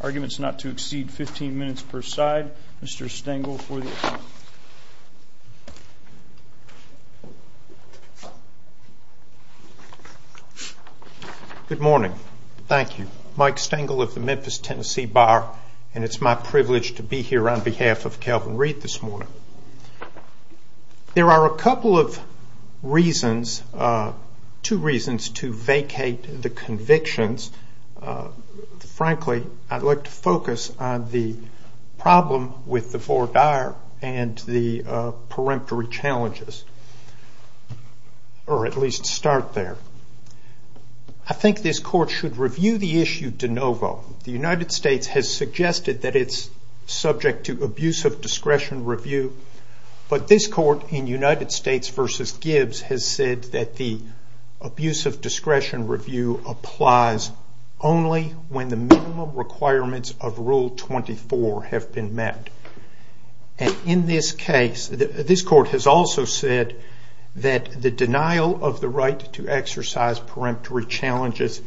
Arguments not to exceed 15 minutes per side. Mr. Stengel for the account. Good morning. Thank you. Mike Stengel of the Memphis, Tennessee Bar. And it's my privilege to be here on behalf of Calvin Reid this morning. There are a couple of reasons, two reasons to vacate the convictions. Frankly, I'd like to focus on the problem with the four dire and the peremptory challenges. Or at least start there. I think this court should review the issue de novo. The United States has suggested that it's subject to abuse of discretion review, but this court in United States v. Gibbs has said that the abuse of discretion review applies only when the minimum requirements of Rule 24 have been met. And in this case, this court has also said that the denial of the right to exercise peremptory challenges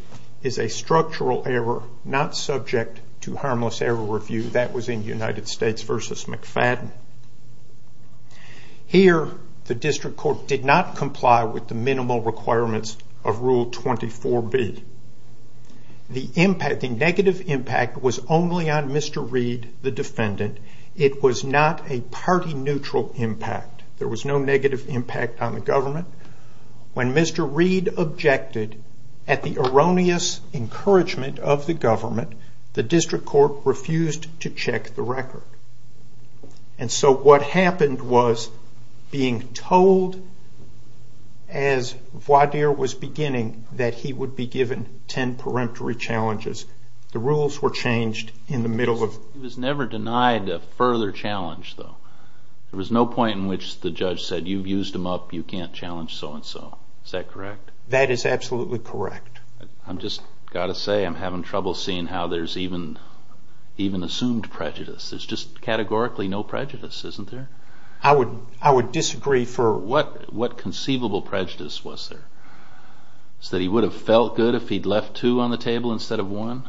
is a structural error, not subject to harmless error review. That was in United States v. McFadden. Here, the district court did not comply with the minimal requirements of Rule 24b. The negative impact was only on Mr. Reid, the defendant. It was not a party neutral impact. There was no negative impact on the government. When Mr. Reid objected at the erroneous encouragement of the government, the district court refused to check the record. And so what happened was being told, as voir dire was beginning, that he would be given ten peremptory challenges. The rules were changed in the middle of... He was never denied a further challenge, though. There was no point in which the judge said, you've used him up, you can't challenge so-and-so. Is that correct? That is absolutely correct. I've just got to say I'm having trouble seeing how there's even assumed prejudice. There's just categorically no prejudice, isn't there? I would disagree for... What conceivable prejudice was there? Was it that he would have felt good if he'd left two on the table instead of one?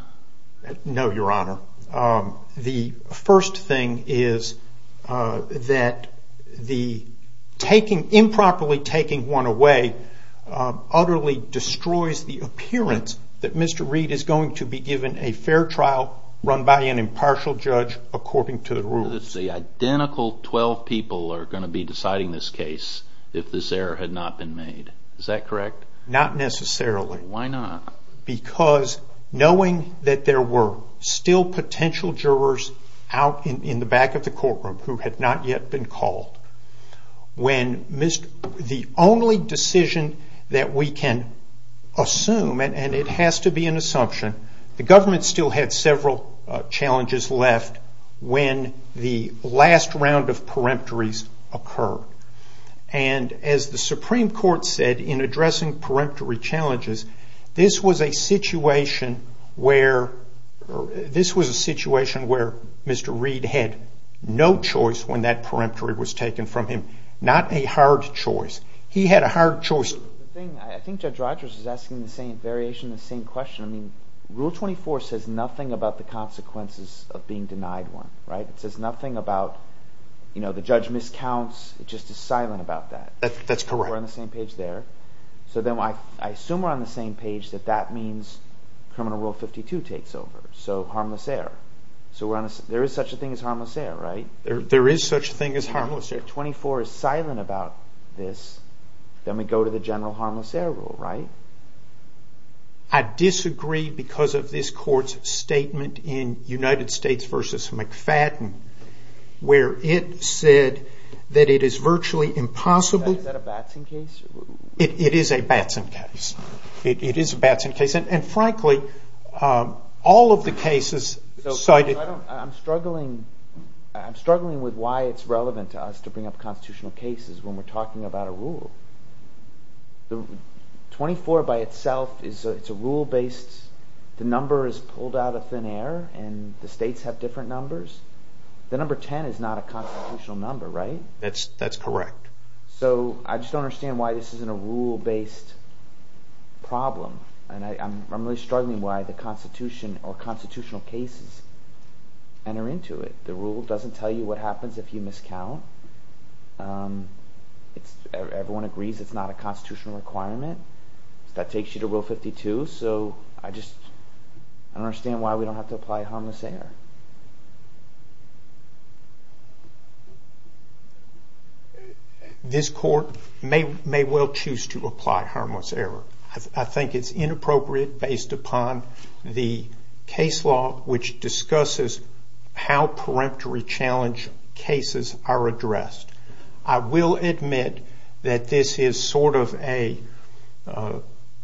No, Your Honor. The first thing is that improperly taking one away utterly destroys the appearance that Mr. Reid is going to be given a fair trial run by an impartial judge according to the rules. The identical twelve people are going to be deciding this case if this error had not been made. Is that correct? Not necessarily. Why not? Because knowing that there were still potential jurors out in the back of the courtroom who had not yet been called, when the only decision that we can assume, and it has to be an assumption, the government still had several challenges left when the last round of peremptories occurred. As the Supreme Court said in addressing peremptory challenges, this was a situation where Mr. Reid had no choice when that peremptory was taken from him. Not a hard choice. He had a hard choice. I think Judge Rogers is asking the same variation, the same question. Rule 24 says nothing about the consequences of being denied one. It says nothing about the judge miscounts. It's just silent about that. That's correct. We're on the same page there. I assume we're on the same page that that means criminal rule 52 takes over, so harmless error. There is such a thing as harmless error, right? There is such a thing as harmless error. Rule 24 is silent about this. Then we go to the general harmless error rule, right? I disagree because of this court's statement in United States v. McFadden where it said that it is virtually impossible... Is that a Batson case? It is a Batson case. It is a Batson case. Frankly, all of the cases cited... I'm struggling with why it's relevant to us to bring up constitutional cases when we're talking about a rule. Rule 24 by itself is a rule based... The number is pulled out of thin air and the states have different numbers. The number 10 is not a constitutional number, right? That's correct. So I just don't understand why this isn't a rule based problem. And I'm really struggling why the constitution or constitutional cases enter into it. The rule doesn't tell you what happens if you miscount. Everyone agrees it's not a constitutional requirement. That takes you to rule 52, so I just don't understand why we don't have to apply harmless error. This court may well choose to apply harmless error. I think it's inappropriate based upon the case law which discusses how peremptory challenge cases are addressed. I will admit that this is sort of a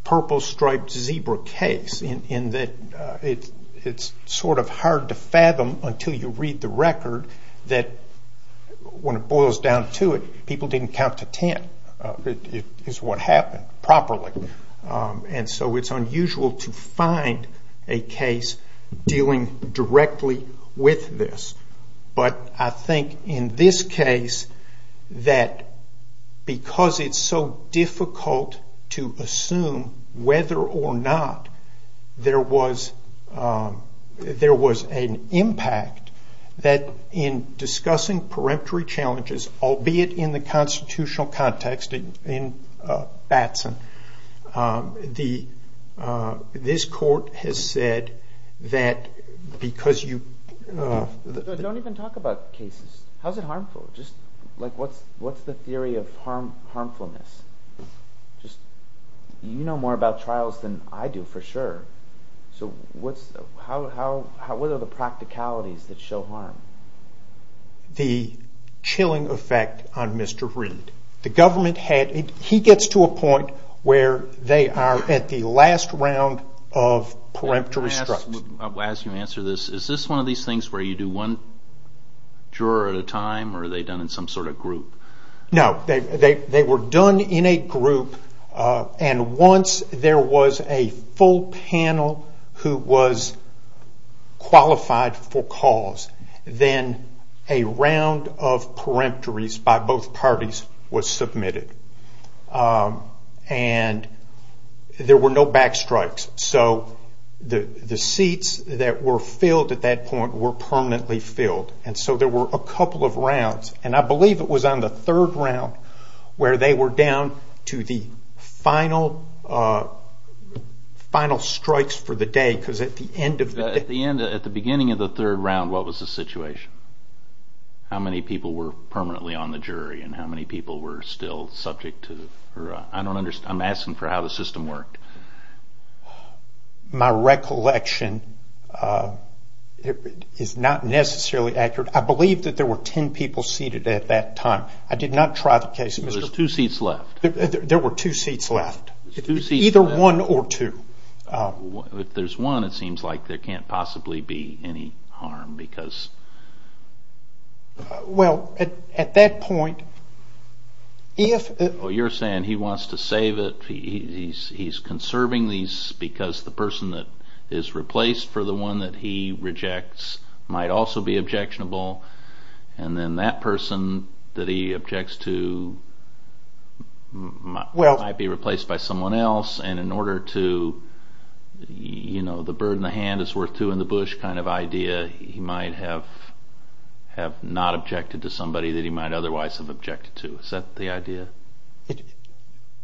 purple-striped zebra case in that it's sort of hard to fathom until you read the record that when it boils down to it, people didn't count to 10 is what happened properly. And so it's unusual to find a case dealing directly with this. But I think in this case that because it's so difficult to assume whether or not there was an impact that in discussing peremptory challenges, albeit in the constitutional context in Batson, this court has said that because you... Don't even talk about cases. How is it harmful? What's the theory of harmfulness? You know more about trials than I do for sure. So what are the practicalities that show harm? The chilling effect on Mr. Reed. He gets to a point where they are at the last round of peremptory structure. Can I ask you to answer this? Is this one of these things where you do one juror at a time or are they done in some sort of group? No, they were done in a group. And once there was a full panel who was qualified for cause, then a round of peremptories by both parties was submitted. And there were no backstrikes. So the seats that were filled at that point were permanently filled. And so there were a couple of rounds. And I believe it was on the third round where they were down to the final strikes for the day. At the beginning of the third round, what was the situation? How many people were permanently on the jury and how many people were still subject to... I'm asking for how the system worked. My recollection is not necessarily accurate. I believe that there were ten people seated at that time. I did not try the case. There's two seats left. There were two seats left. Either one or two. If there's one, it seems like there can't possibly be any harm because... Well, at that point, if... Because the person that is replaced for the one that he rejects might also be objectionable. And then that person that he objects to might be replaced by someone else. And in order to, you know, the bird in the hand is worth two in the bush kind of idea, he might have not objected to somebody that he might otherwise have objected to. Is that the idea?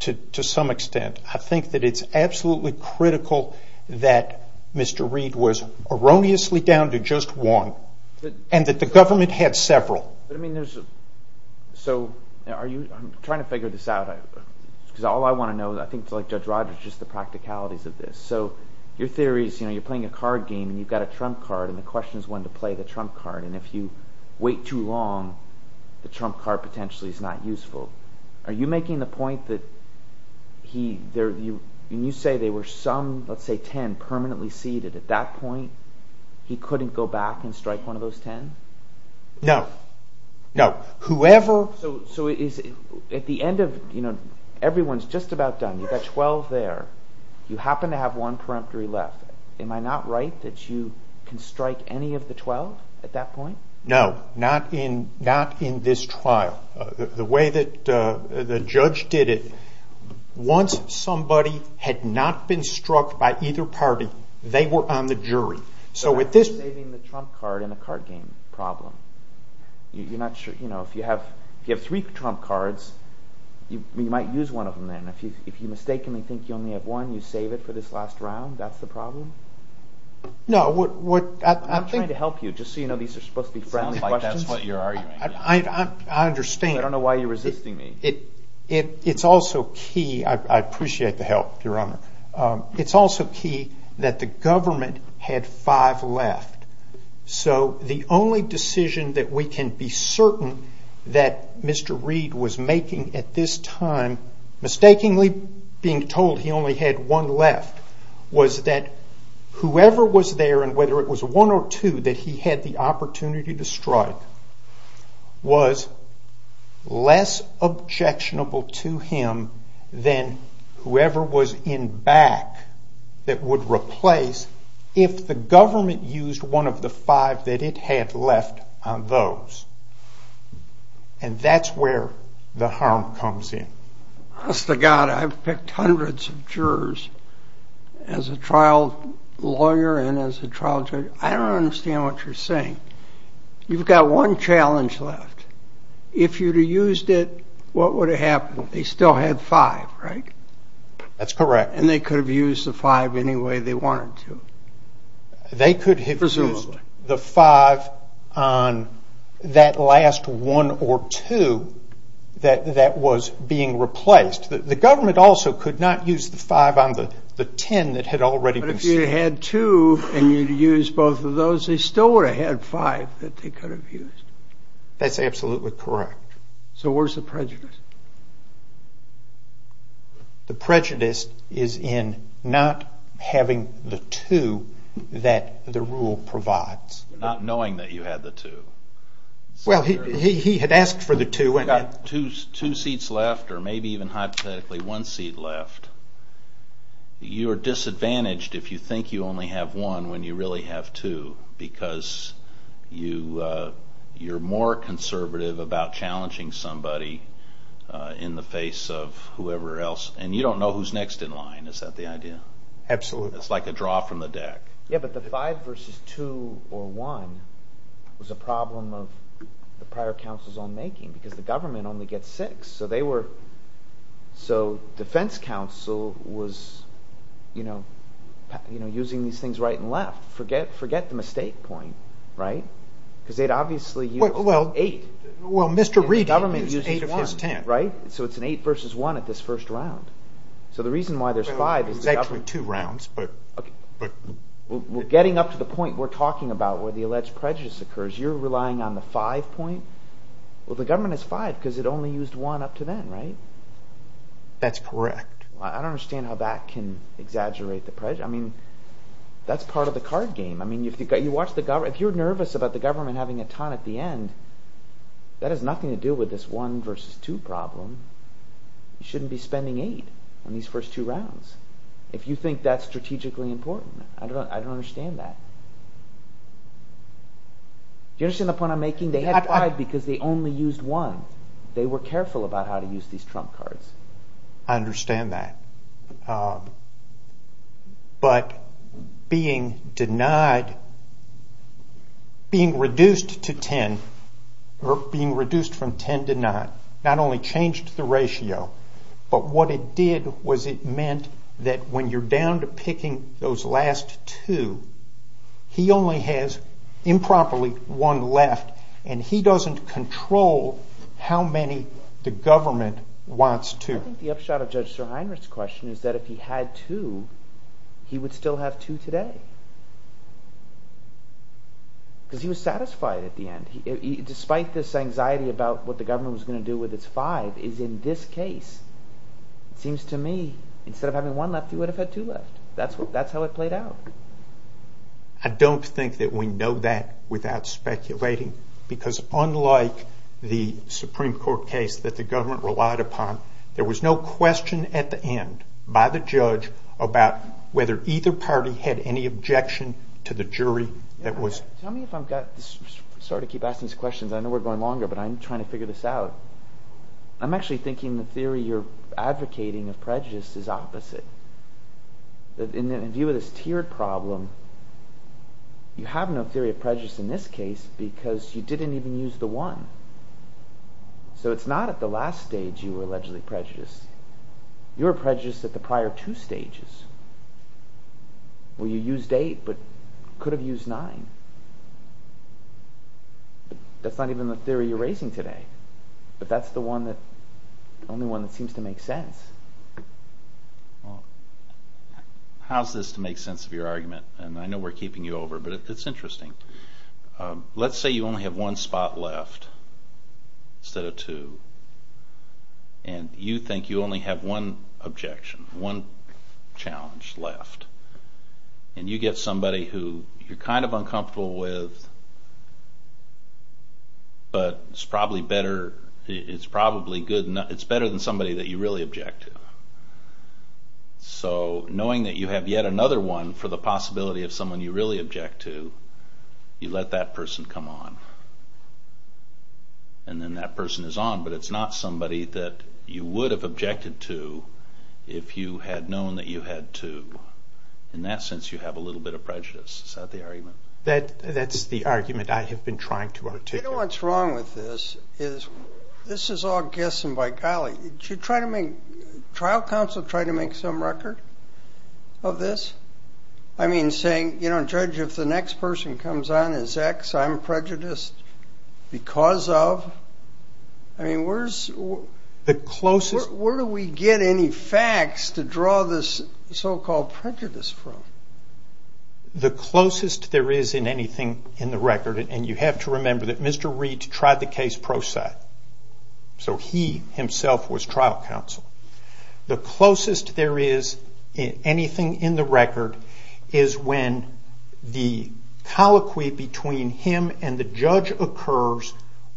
To some extent. But I think that it's absolutely critical that Mr. Reid was erroneously down to just one and that the government had several. But, I mean, there's... So are you... I'm trying to figure this out. Because all I want to know, I think it's like Judge Rogers, just the practicalities of this. So your theory is, you know, you're playing a card game and you've got a trump card and the question is when to play the trump card. And if you wait too long, the trump card potentially is not useful. Are you making the point that he... When you say there were some, let's say ten, permanently seated at that point, he couldn't go back and strike one of those ten? No. No. Whoever... So at the end of, you know, everyone's just about done. You've got twelve there. You happen to have one peremptory left. Am I not right that you can strike any of the twelve at that point? No. Not in this trial. The way that the judge did it, once somebody had not been struck by either party, they were on the jury. So with this... But that's saving the trump card in the card game problem. You're not sure, you know, if you have three trump cards, you might use one of them then. If you mistakenly think you only have one, you save it for this last round, that's the problem? No. I'm trying to help you, just so you know these are supposed to be friendly questions. That's what you're arguing. I understand. I don't know why you're resisting me. It's also key... I appreciate the help, Your Honor. It's also key that the government had five left. So the only decision that we can be certain that Mr. Reed was making at this time, mistakenly being told he only had one left, was that whoever was there, and whether it was one or two, that he had the opportunity to strike, was less objectionable to him than whoever was in back that would replace if the government used one of the five that it had left on those. And that's where the harm comes in. Trust to God, I've picked hundreds of jurors as a trial lawyer and as a trial judge. I don't understand what you're saying. You've got one challenge left. If you'd have used it, what would have happened? They still had five, right? That's correct. And they could have used the five any way they wanted to. Presumably. They could have used the five on that last one or two that was being replaced. The government also could not use the five on the ten that had already been seen. But if you had two and you'd have used both of those, they still would have had five that they could have used. That's absolutely correct. So where's the prejudice? The prejudice is in not having the two that the rule provides. Not knowing that you had the two. Well, he had asked for the two. You've got two seats left, or maybe even hypothetically one seat left. You are disadvantaged if you think you only have one when you really have two because you're more conservative about challenging somebody in the face of whoever else. And you don't know who's next in line. Is that the idea? Absolutely. It's like a draw from the deck. Yeah, but the five versus two or one was a problem of the prior counsel's own making because the government only gets six. So defense counsel was using these things right and left. Forget the mistake point, right? Because they'd obviously used eight. Well, Mr. Reid had used eight of his ten. So it's an eight versus one at this first round. So the reason why there's five is the government... Well, there's actually two rounds, but... Well, getting up to the point we're talking about where the alleged prejudice occurs, you're relying on the five point? Well, the government has five because it only used one up to then, right? That's correct. I don't understand how that can exaggerate the prejudice. I mean, that's part of the card game. I mean, if you're nervous about the government having a ton at the end, that has nothing to do with this one versus two problem. You shouldn't be spending eight on these first two rounds if you think that's strategically important. I don't understand that. Do you understand the point I'm making? I mean, they had five because they only used one. They were careful about how to use these trump cards. I understand that. But being denied... being reduced to ten, or being reduced from ten to nine, not only changed the ratio, but what it did was it meant that when you're down to picking those last two, he only has improperly one left, and he doesn't control how many the government wants to. I think the upshot of Judge Sir Heinrich's question is that if he had two, he would still have two today. Because he was satisfied at the end. Despite this anxiety about what the government was going to do with its five, is in this case, it seems to me, instead of having one left, he would have had two left. That's how it played out. I don't think that we know that without speculating. Because unlike the Supreme Court case that the government relied upon, there was no question at the end by the judge about whether either party had any objection to the jury that was... Tell me if I've got... Sorry to keep asking these questions. I know we're going longer, but I'm trying to figure this out. I'm actually thinking the theory you're advocating of prejudice is opposite. In view of this tiered problem, you have no theory of prejudice in this case because you didn't even use the one. So it's not at the last stage you were allegedly prejudiced. You were prejudiced at the prior two stages. Well, you used eight, but could have used nine. That's not even the theory you're raising today. But that's the only one that seems to make sense. How's this to make sense of your argument? And I know we're keeping you over, but it's interesting. Let's say you only have one spot left instead of two. And you think you only have one objection, one challenge left. And you get somebody who you're kind of uncomfortable with, but it's probably better... It's better than somebody that you really object to. So knowing that you have yet another one for the possibility of someone you really object to, you let that person come on. And then that person is on, but it's not somebody that you would have objected to if you had known that you had two. In that sense, you have a little bit of prejudice. Is that the argument? That's the argument I have been trying to articulate. You know what's wrong with this? This is all guessing by golly. Trial counsel tried to make some record of this? I mean, saying, Judge, if the next person comes on as X, I'm prejudiced because of... Where do we get any facts to draw this so-called prejudice from? The closest there is in anything in the record, and you have to remember that Mr. Reed tried the case pro se. So he himself was trial counsel. The closest there is in anything in the record is when the colloquy between him and the judge occurs,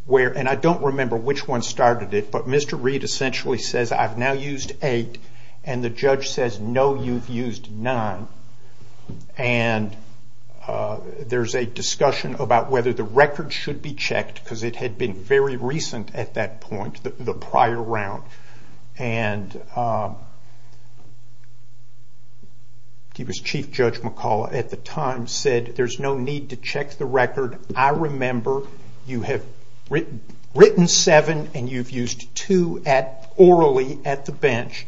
and I don't remember which one started it, but Mr. Reed essentially says, I've now used eight, and the judge says, no, you've used nine. And there's a discussion about whether the record should be checked, because it had been very recent at that point, the prior round. Chief Judge McCullough at the time said, there's no need to check the record. I remember you have written seven, and you've used two orally at the bench,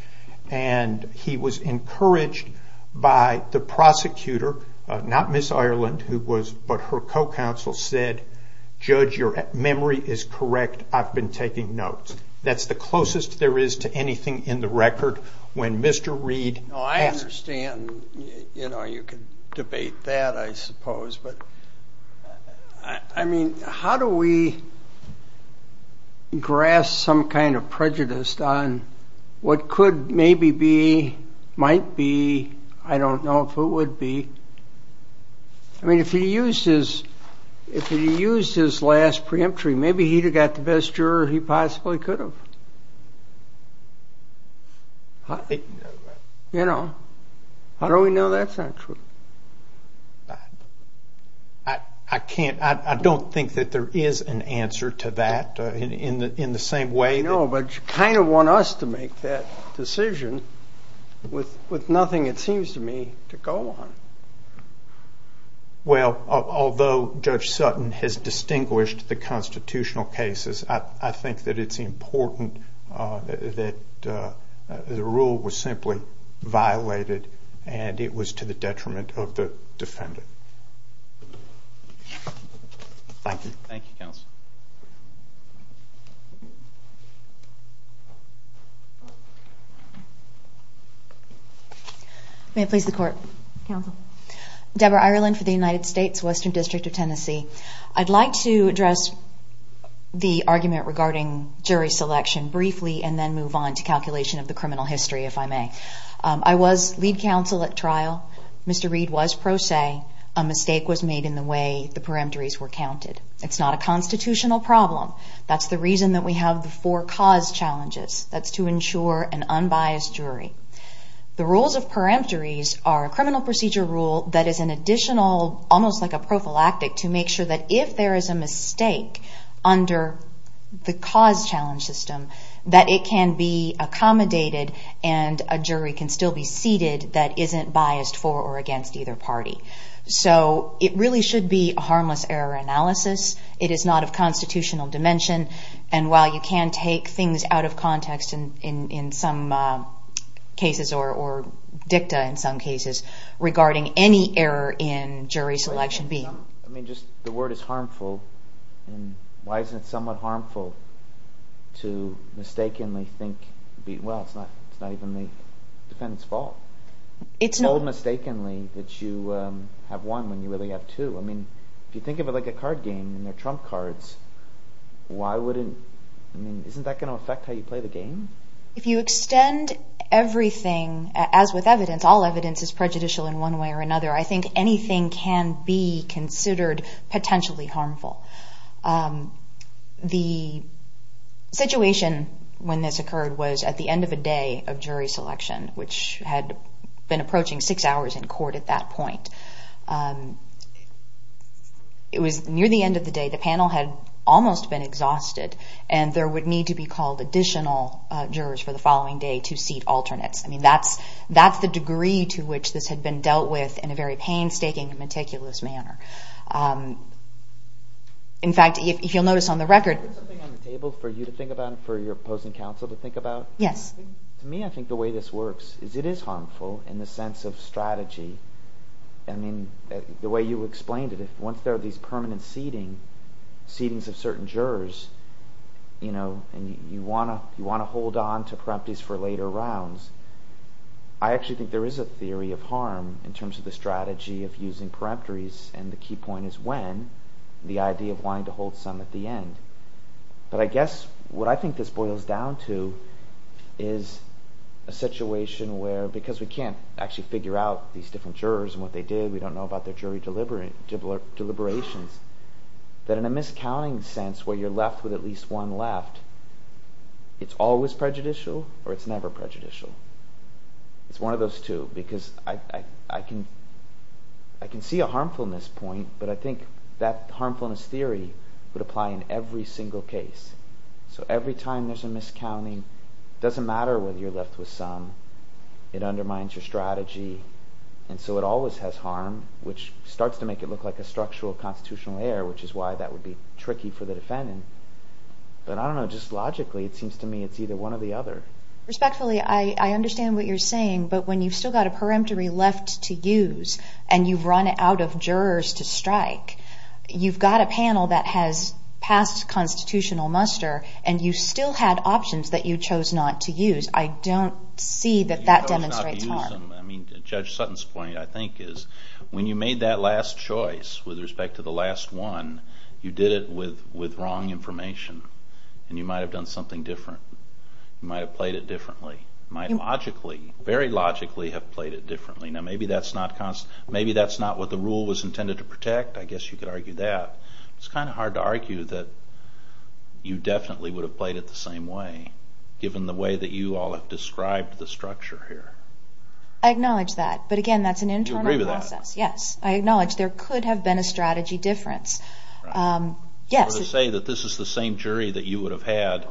and he was encouraged by the prosecutor, not Ms. Ireland, but her co-counsel, said, judge, your memory is correct. I've been taking notes. That's the closest there is to anything in the record when Mr. Reed asked. I understand you can debate that, I suppose, but how do we grasp some kind of prejudice on what could maybe be, might be, I don't know if it would be. I mean, if he used his last preemptory, maybe he'd have got the best juror he possibly could have. You know, how do we know that's not true? I don't think that there is an answer to that in the same way that... No, but you kind of want us to make that decision with nothing, it seems to me, to go on. Well, although Judge Sutton has distinguished the constitutional cases, I think that it's important that the rule was simply violated, and it was to the detriment of the defendant. Thank you. Thank you, counsel. May it please the court. Counsel. Deborah Ireland for the United States Western District of Tennessee. I'd like to address the argument regarding jury selection briefly and then move on to calculation of the criminal history, if I may. I was lead counsel at trial. Mr. Reed was pro se. A mistake was made in the way the preemptories were counted. It's not a constitutional problem. That's the reason that we have the four cause challenges. That's to ensure an unbiased jury. The rules of preemptories are a criminal procedure rule that is an additional, almost like a prophylactic, to make sure that if there is a mistake under the cause challenge system, that it can be accommodated and a jury can still be seated that isn't biased for or against either party. So it really should be a harmless error analysis. It is not of constitutional dimension, and while you can take things out of context in some cases or dicta in some cases, regarding any error in jury selection being... I mean, just the word is harmful. Why isn't it somewhat harmful to mistakenly think, well, it's not even the defendant's fault. It's not. To hold mistakenly that you have won when you really have two. I mean, if you think of it like a card game and they're trump cards, why wouldn't... I mean, isn't that going to affect how you play the game? If you extend everything, as with evidence, all evidence is prejudicial in one way or another, I think anything can be considered potentially harmful. The situation when this occurred was at the end of a day of jury selection, which had been approaching six hours in court at that point. It was near the end of the day. The panel had almost been exhausted, and there would need to be called additional jurors for the following day to seat alternates. I mean, that's the degree to which this had been dealt with in a very painstaking and meticulous manner. In fact, if you'll notice on the record... Is there something on the table for you to think about and for your opposing counsel to think about? Yes. To me, I think the way this works is it is harmful in the sense of strategy. I mean, the way you explained it, once there are these permanent seatings of certain jurors, and you want to hold on to peremptories for later rounds, I actually think there is a theory of harm in terms of the strategy of using peremptories, and the key point is when, the idea of wanting to hold some at the end. But I guess what I think this boils down to is a situation where, because we can't actually figure out these different jurors and what they did, we don't know about their jury deliberations, that in a miscounting sense where you're left with at least one left, it's always prejudicial or it's never prejudicial. It's one of those two, because I can see a harmfulness point, but I think that harmfulness theory would apply in every single case. So every time there's a miscounting, it doesn't matter whether you're left with some, it undermines your strategy, and so it always has harm, which starts to make it look like a structural constitutional error, which is why that would be tricky for the defendant. But I don't know, just logically, it seems to me it's either one or the other. Respectfully, I understand what you're saying, but when you've still got a peremptory left to use, and you've run out of jurors to strike, you've got a panel that has passed constitutional muster, and you still had options that you chose not to use. I don't see that that demonstrates harm. Judge Sutton's point, I think, is when you made that last choice with respect to the last one, you did it with wrong information, and you might have done something different. You might have played it differently. You might logically, very logically, have played it differently. Now maybe that's not what the rule was intended to protect. I guess you could argue that. It's kind of hard to argue that you definitely would have played it the same way, given the way that you all have described the structure here. I acknowledge that. But again, that's an internal process. You agree with that? Yes. I acknowledge there could have been a strategy difference. So to say that this is the same jury that you would have had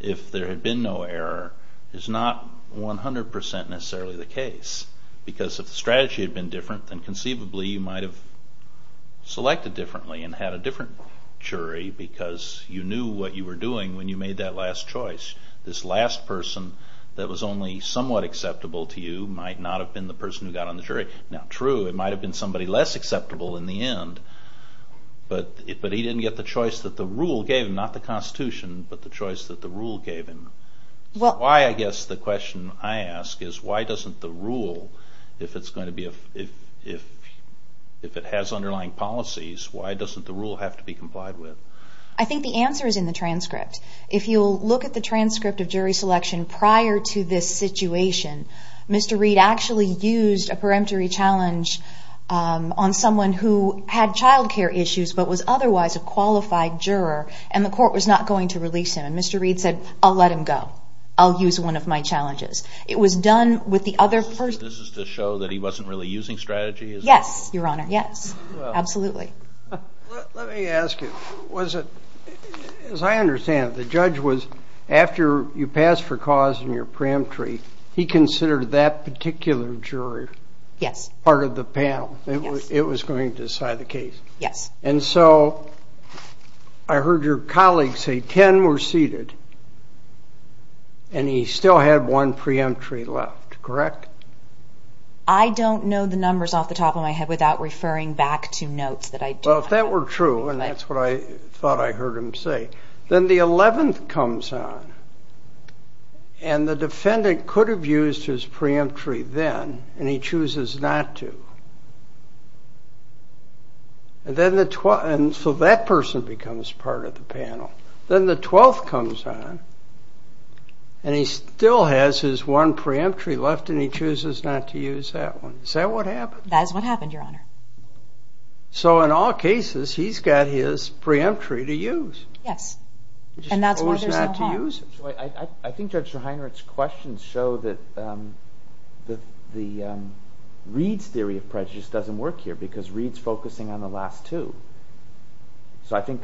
if there had been no error is not 100% necessarily the case. Because if the strategy had been different, then conceivably you might have selected differently and had a different jury because you knew what you were doing when you made that last choice. This last person that was only somewhat acceptable to you might not have been the person who got on the jury. Now true, it might have been somebody less acceptable in the end, but he didn't get the choice that the rule gave him, not the Constitution, but the choice that the rule gave him. Why, I guess the question I ask, is why doesn't the rule, if it has underlying policies, why doesn't the rule have to be complied with? I think the answer is in the transcript. If you'll look at the transcript of jury selection prior to this situation, Mr. Reed actually used a peremptory challenge on someone who had child care issues but was otherwise a qualified juror, and the court was not going to release him. And Mr. Reed said, I'll let him go. I'll use one of my challenges. It was done with the other person. This is to show that he wasn't really using strategy? Yes, Your Honor. Yes. Absolutely. Let me ask you, as I understand it, the judge was, after you passed for cause in your peremptory, he considered that particular juror part of the panel. It was going to decide the case. Yes. And so I heard your colleague say 10 were seated, and he still had one preemptory left, correct? I don't know the numbers off the top of my head without referring back to notes that I do have. Well, if that were true, and that's what I thought I heard him say, then the 11th comes on, and the defendant could have used his preemptory then, And so that person becomes part of the panel. Then the 12th comes on, and he still has his one preemptory left, and he chooses not to use that one. Is that what happened? That is what happened, Your Honor. So in all cases, he's got his preemptory to use. Yes. And that's why there's no harm. I think Judge Rehinerich's questions show that the Reed's theory of prejudice doesn't work here because Reed's focusing on the last two. So I think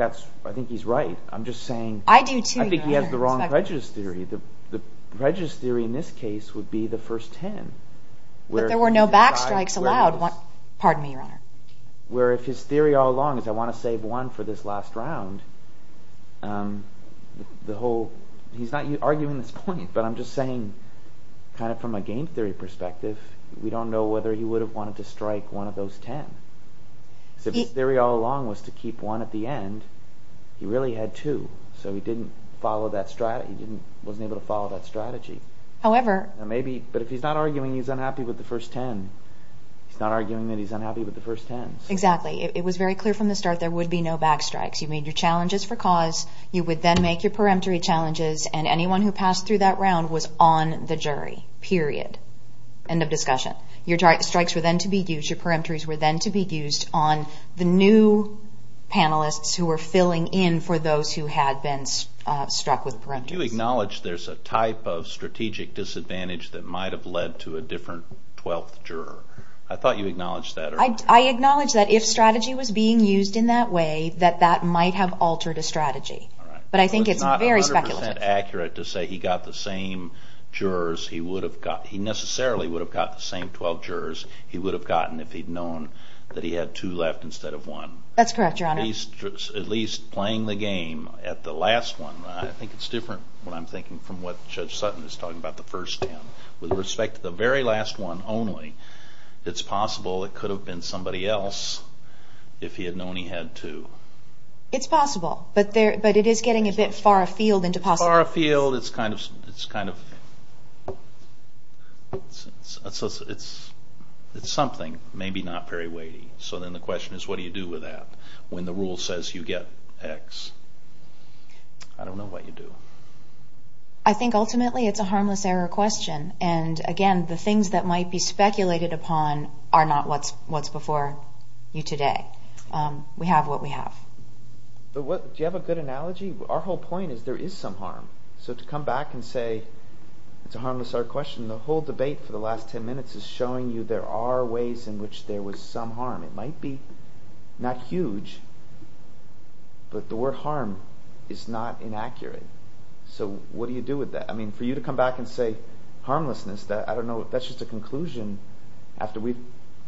he's right. I'm just saying... I do too, Your Honor. I think he has the wrong prejudice theory. The prejudice theory in this case would be the first 10. But there were no backstrikes allowed. Pardon me, Your Honor. Where if his theory all along is, I want to save one for this last round, he's not arguing this point, but I'm just saying, kind of from a game theory perspective, we don't know whether he would have wanted to strike one of those 10. If his theory all along was to keep one at the end, he really had two. So he wasn't able to follow that strategy. However... But if he's not arguing he's unhappy with the first 10, he's not arguing that he's unhappy with the first 10. Exactly. It was very clear from the start there would be no backstrikes. You made your challenges for cause. You would then make your preemptory challenges. And anyone who passed through that round was on the jury, period. End of discussion. Your strikes were then to be used. Your preemptories were then to be used on the new panelists who were filling in for those who had been struck with preemptors. You acknowledge there's a type of strategic disadvantage that might have led to a different 12th juror. I thought you acknowledged that earlier. I acknowledge that if strategy was being used in that way, that that might have altered a strategy. All right. But I think it's very speculative. It's not 100% accurate to say he got the same jurors he would have got... He necessarily would have got the same 12 jurors he would have gotten if he'd known that he had two left instead of one. That's correct, Your Honor. At least playing the game at the last one, I think it's different, what I'm thinking, from what Judge Sutton is talking about, the first 10. With respect to the very last one only, it's possible it could have been somebody else if he had known he had two. It's possible. But it is getting a bit far afield into possibility. It's far afield. It's something, maybe not very weighty. So then the question is what do you do with that when the rule says you get X? I don't know what you do. I think ultimately it's a harmless error question. And again, the things that might be speculated upon are not what's before you today. We have what we have. Do you have a good analogy? Our whole point is there is some harm. So to come back and say it's a harmless error question, the whole debate for the last 10 minutes is showing you there are ways in which there was some harm. It might be not huge, but the word harm is not inaccurate. So what do you do with that? For you to come back and say harmlessness, that's just a conclusion after we've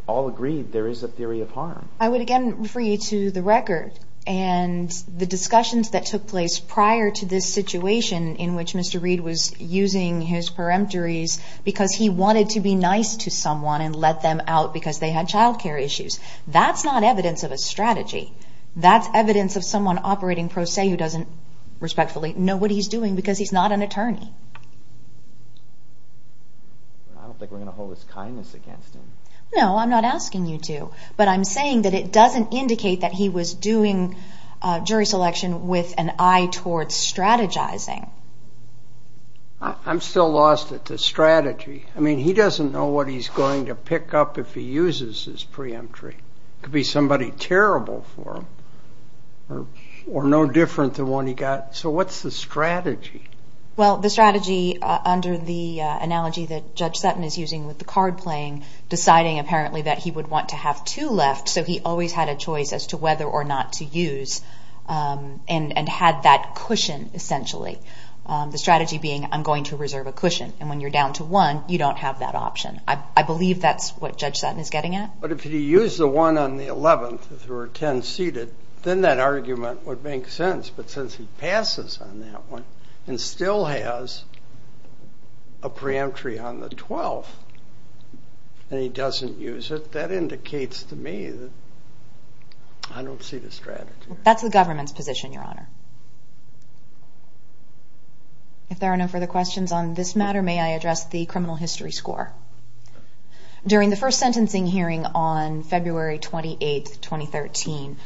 all agreed there is a theory of harm. I would again refer you to the record and the discussions that took place prior to this situation in which Mr. Reed was using his peremptories because he wanted to be nice to someone and let them out because they had child care issues. That's not evidence of a strategy. That's evidence of someone operating pro se who doesn't respectfully know what he's doing because he's not an attorney. I don't think we're going to hold his kindness against him. No, I'm not asking you to. But I'm saying that it doesn't indicate that he was doing jury selection with an eye towards strategizing. I'm still lost at the strategy. I mean, he doesn't know what he's going to pick up if he uses his preemptory. It could be somebody terrible for him or no different than the one he got. So what's the strategy? Well, the strategy under the analogy that Judge Sutton is using with the card playing, deciding apparently that he would want to have two left so he always had a choice as to whether or not to use and had that cushion essentially. The strategy being I'm going to reserve a cushion and when you're down to one, you don't have that option. I believe that's what Judge Sutton is getting at. But if he used the one on the 11th, if there were 10 seated, then that argument would make sense. But since he passes on that one and still has a preemptory on the 12th and he doesn't use it, that indicates to me that I don't see the strategy. That's the government's position, Your Honor. If there are no further questions on this matter, may I address the criminal history score? During the first sentencing hearing on February 28, 2013,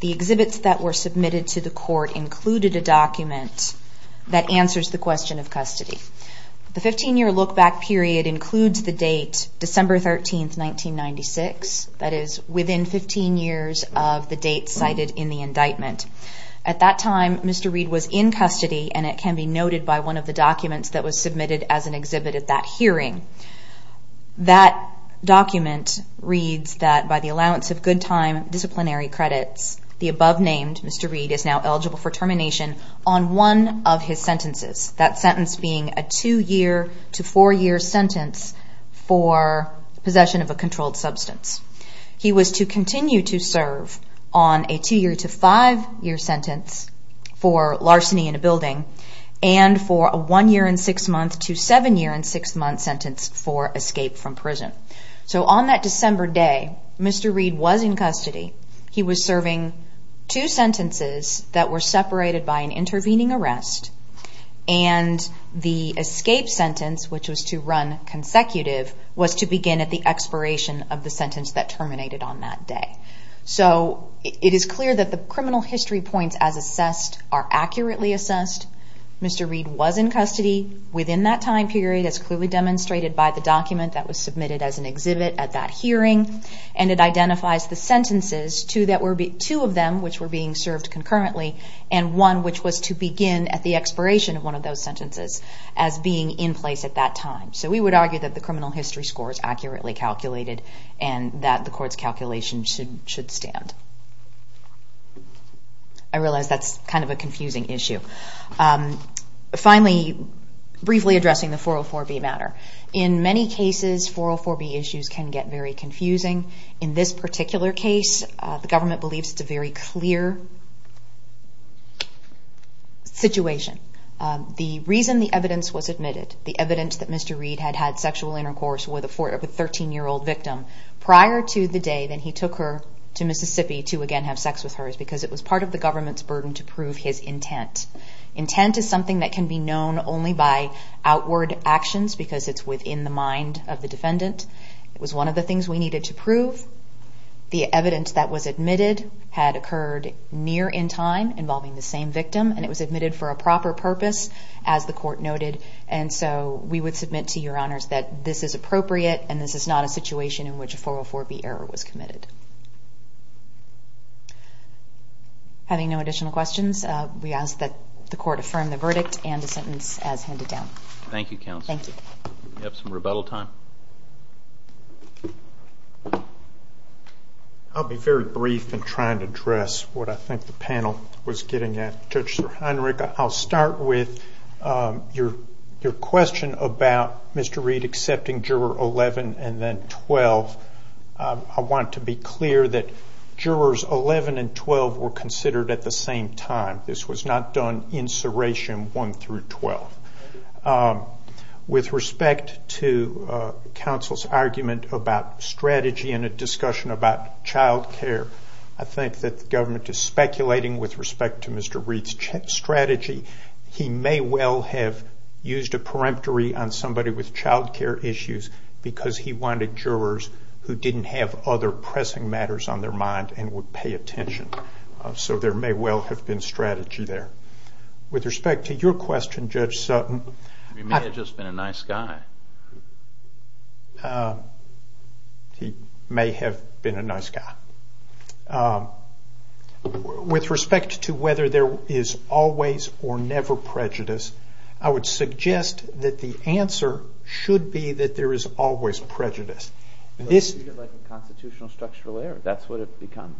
the exhibits that were submitted to the court included a document that answers the question of custody. The 15-year look-back period includes the date December 13, 1996, that is within 15 years of the date cited in the indictment. At that time, Mr. Reed was in custody and it can be noted by one of the documents that was submitted as an exhibit at that hearing. That document reads that by the allowance of good time disciplinary credits, the above-named Mr. Reed is now eligible for termination on one of his sentences, that sentence being a 2-year to 4-year sentence for possession of a controlled substance. He was to continue to serve on a 2-year to 5-year sentence for larceny in a building and for a 1-year and 6-month to 7-year and 6-month sentence for escape from prison. So on that December day, Mr. Reed was in custody. He was serving two sentences that were separated by an intervening arrest and the escape sentence, which was to run consecutive, was to begin at the expiration of the sentence that terminated on that day. So it is clear that the criminal history points as assessed are accurately assessed. Mr. Reed was in custody within that time period as clearly demonstrated by the document that was submitted as an exhibit at that hearing and it identifies the sentences, two of them which were being served concurrently and one which was to begin at the expiration of one of those sentences as being in place at that time. So we would argue that the criminal history score is accurately calculated and that the court's calculation should stand. I realize that's kind of a confusing issue. Finally, briefly addressing the 404B matter. In many cases, 404B issues can get very confusing. In this particular case, the government believes it's a very clear situation. The reason the evidence was admitted, the evidence that Mr. Reed had had sexual intercourse with a 13-year-old victim prior to the day that he took her to Mississippi to again have sex with her is because it was part of the government's burden to prove his intent. Intent is something that can be known only by outward actions because it's within the mind of the defendant. It was one of the things we needed to prove. The evidence that was admitted had occurred near in time, involving the same victim, and it was admitted for a proper purpose, as the court noted. And so we would submit to your honors that this is appropriate and this is not a situation in which a 404B error was committed. Having no additional questions, we ask that the court affirm the verdict and the sentence as handed down. Thank you, counsel. Thank you. We have some rebuttal time. I'll be very brief in trying to address what I think the panel was getting at. Judge Heinrich, I'll start with your question about Mr. Reed accepting juror 11 and then 12. I want to be clear that jurors 11 and 12 were considered at the same time. This was not done in serration 1 through 12. With respect to counsel's argument about strategy in a discussion about child care, I think that the government is speculating with respect to Mr. Reed's strategy. He may well have used a peremptory on somebody with child care issues because he wanted jurors who didn't have other pressing matters on their mind and would pay attention. So there may well have been strategy there. With respect to your question, Judge Sutton... He may have just been a nice guy. He may have been a nice guy. With respect to whether there is always or never prejudice, I would suggest that the answer should be that there is always prejudice. It's like a constitutional structural error. That's what it becomes.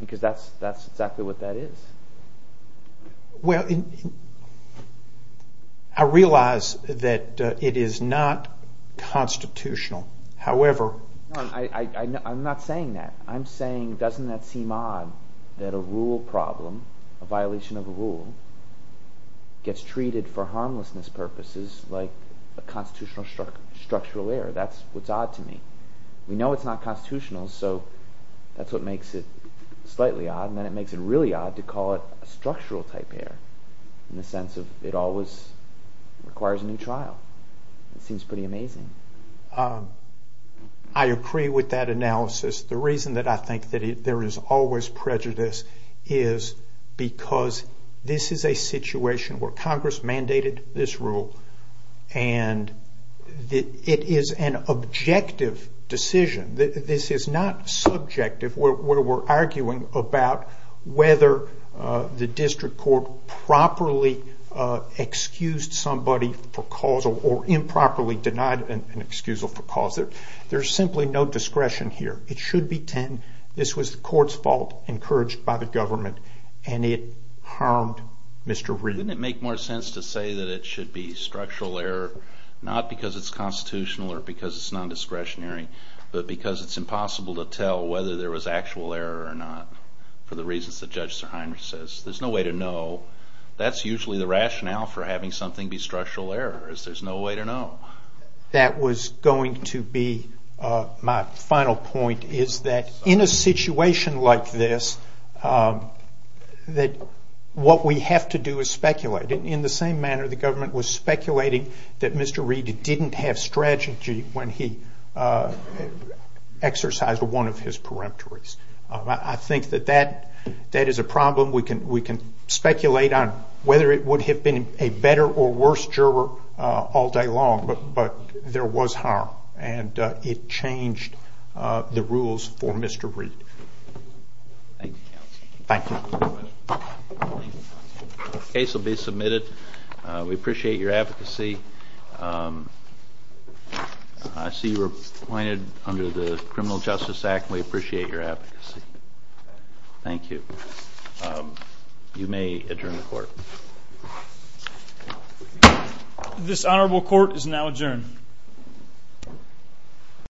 Because that's exactly what that is. Well, I realize that it is not constitutional. However... I'm not saying that. I'm saying, doesn't that seem odd that a rule problem, a violation of a rule, gets treated for harmlessness purposes like a constitutional structural error? That's what's odd to me. We know it's not constitutional, so that's what makes it slightly odd. And then it makes it really odd to call it a structural type error in the sense that it always requires a new trial. It seems pretty amazing. I agree with that analysis. The reason that I think that there is always prejudice is because this is a situation where Congress mandated this rule and it is an objective decision. This is not subjective. We're arguing about whether the district court properly excused somebody for causal or improperly denied an excusal for causal. There's simply no discretion here. It should be 10. This was the court's fault, encouraged by the government, and it harmed Mr. Wren. Wouldn't it make more sense to say that it should be structural error, not because it's constitutional or because it's non-discretionary, but because it's impossible to tell whether there was actual error or not for the reasons that Judge Sirhiner says? There's no way to know. That's usually the rationale for having something be structural error, is there's no way to know. That was going to be my final point, is that in a situation like this, what we have to do is speculate. In the same manner the government was speculating that Mr. Reed didn't have strategy when he exercised one of his peremptories. I think that that is a problem. We can speculate on whether it would have been a better or worse juror all day long, but there was harm, and it changed the rules for Mr. Reed. Thank you, counsel. Thank you. The case will be submitted. We appreciate your advocacy. I see you were appointed under the Criminal Justice Act. We appreciate your advocacy. Thank you. You may adjourn the court. This honorable court is now adjourned.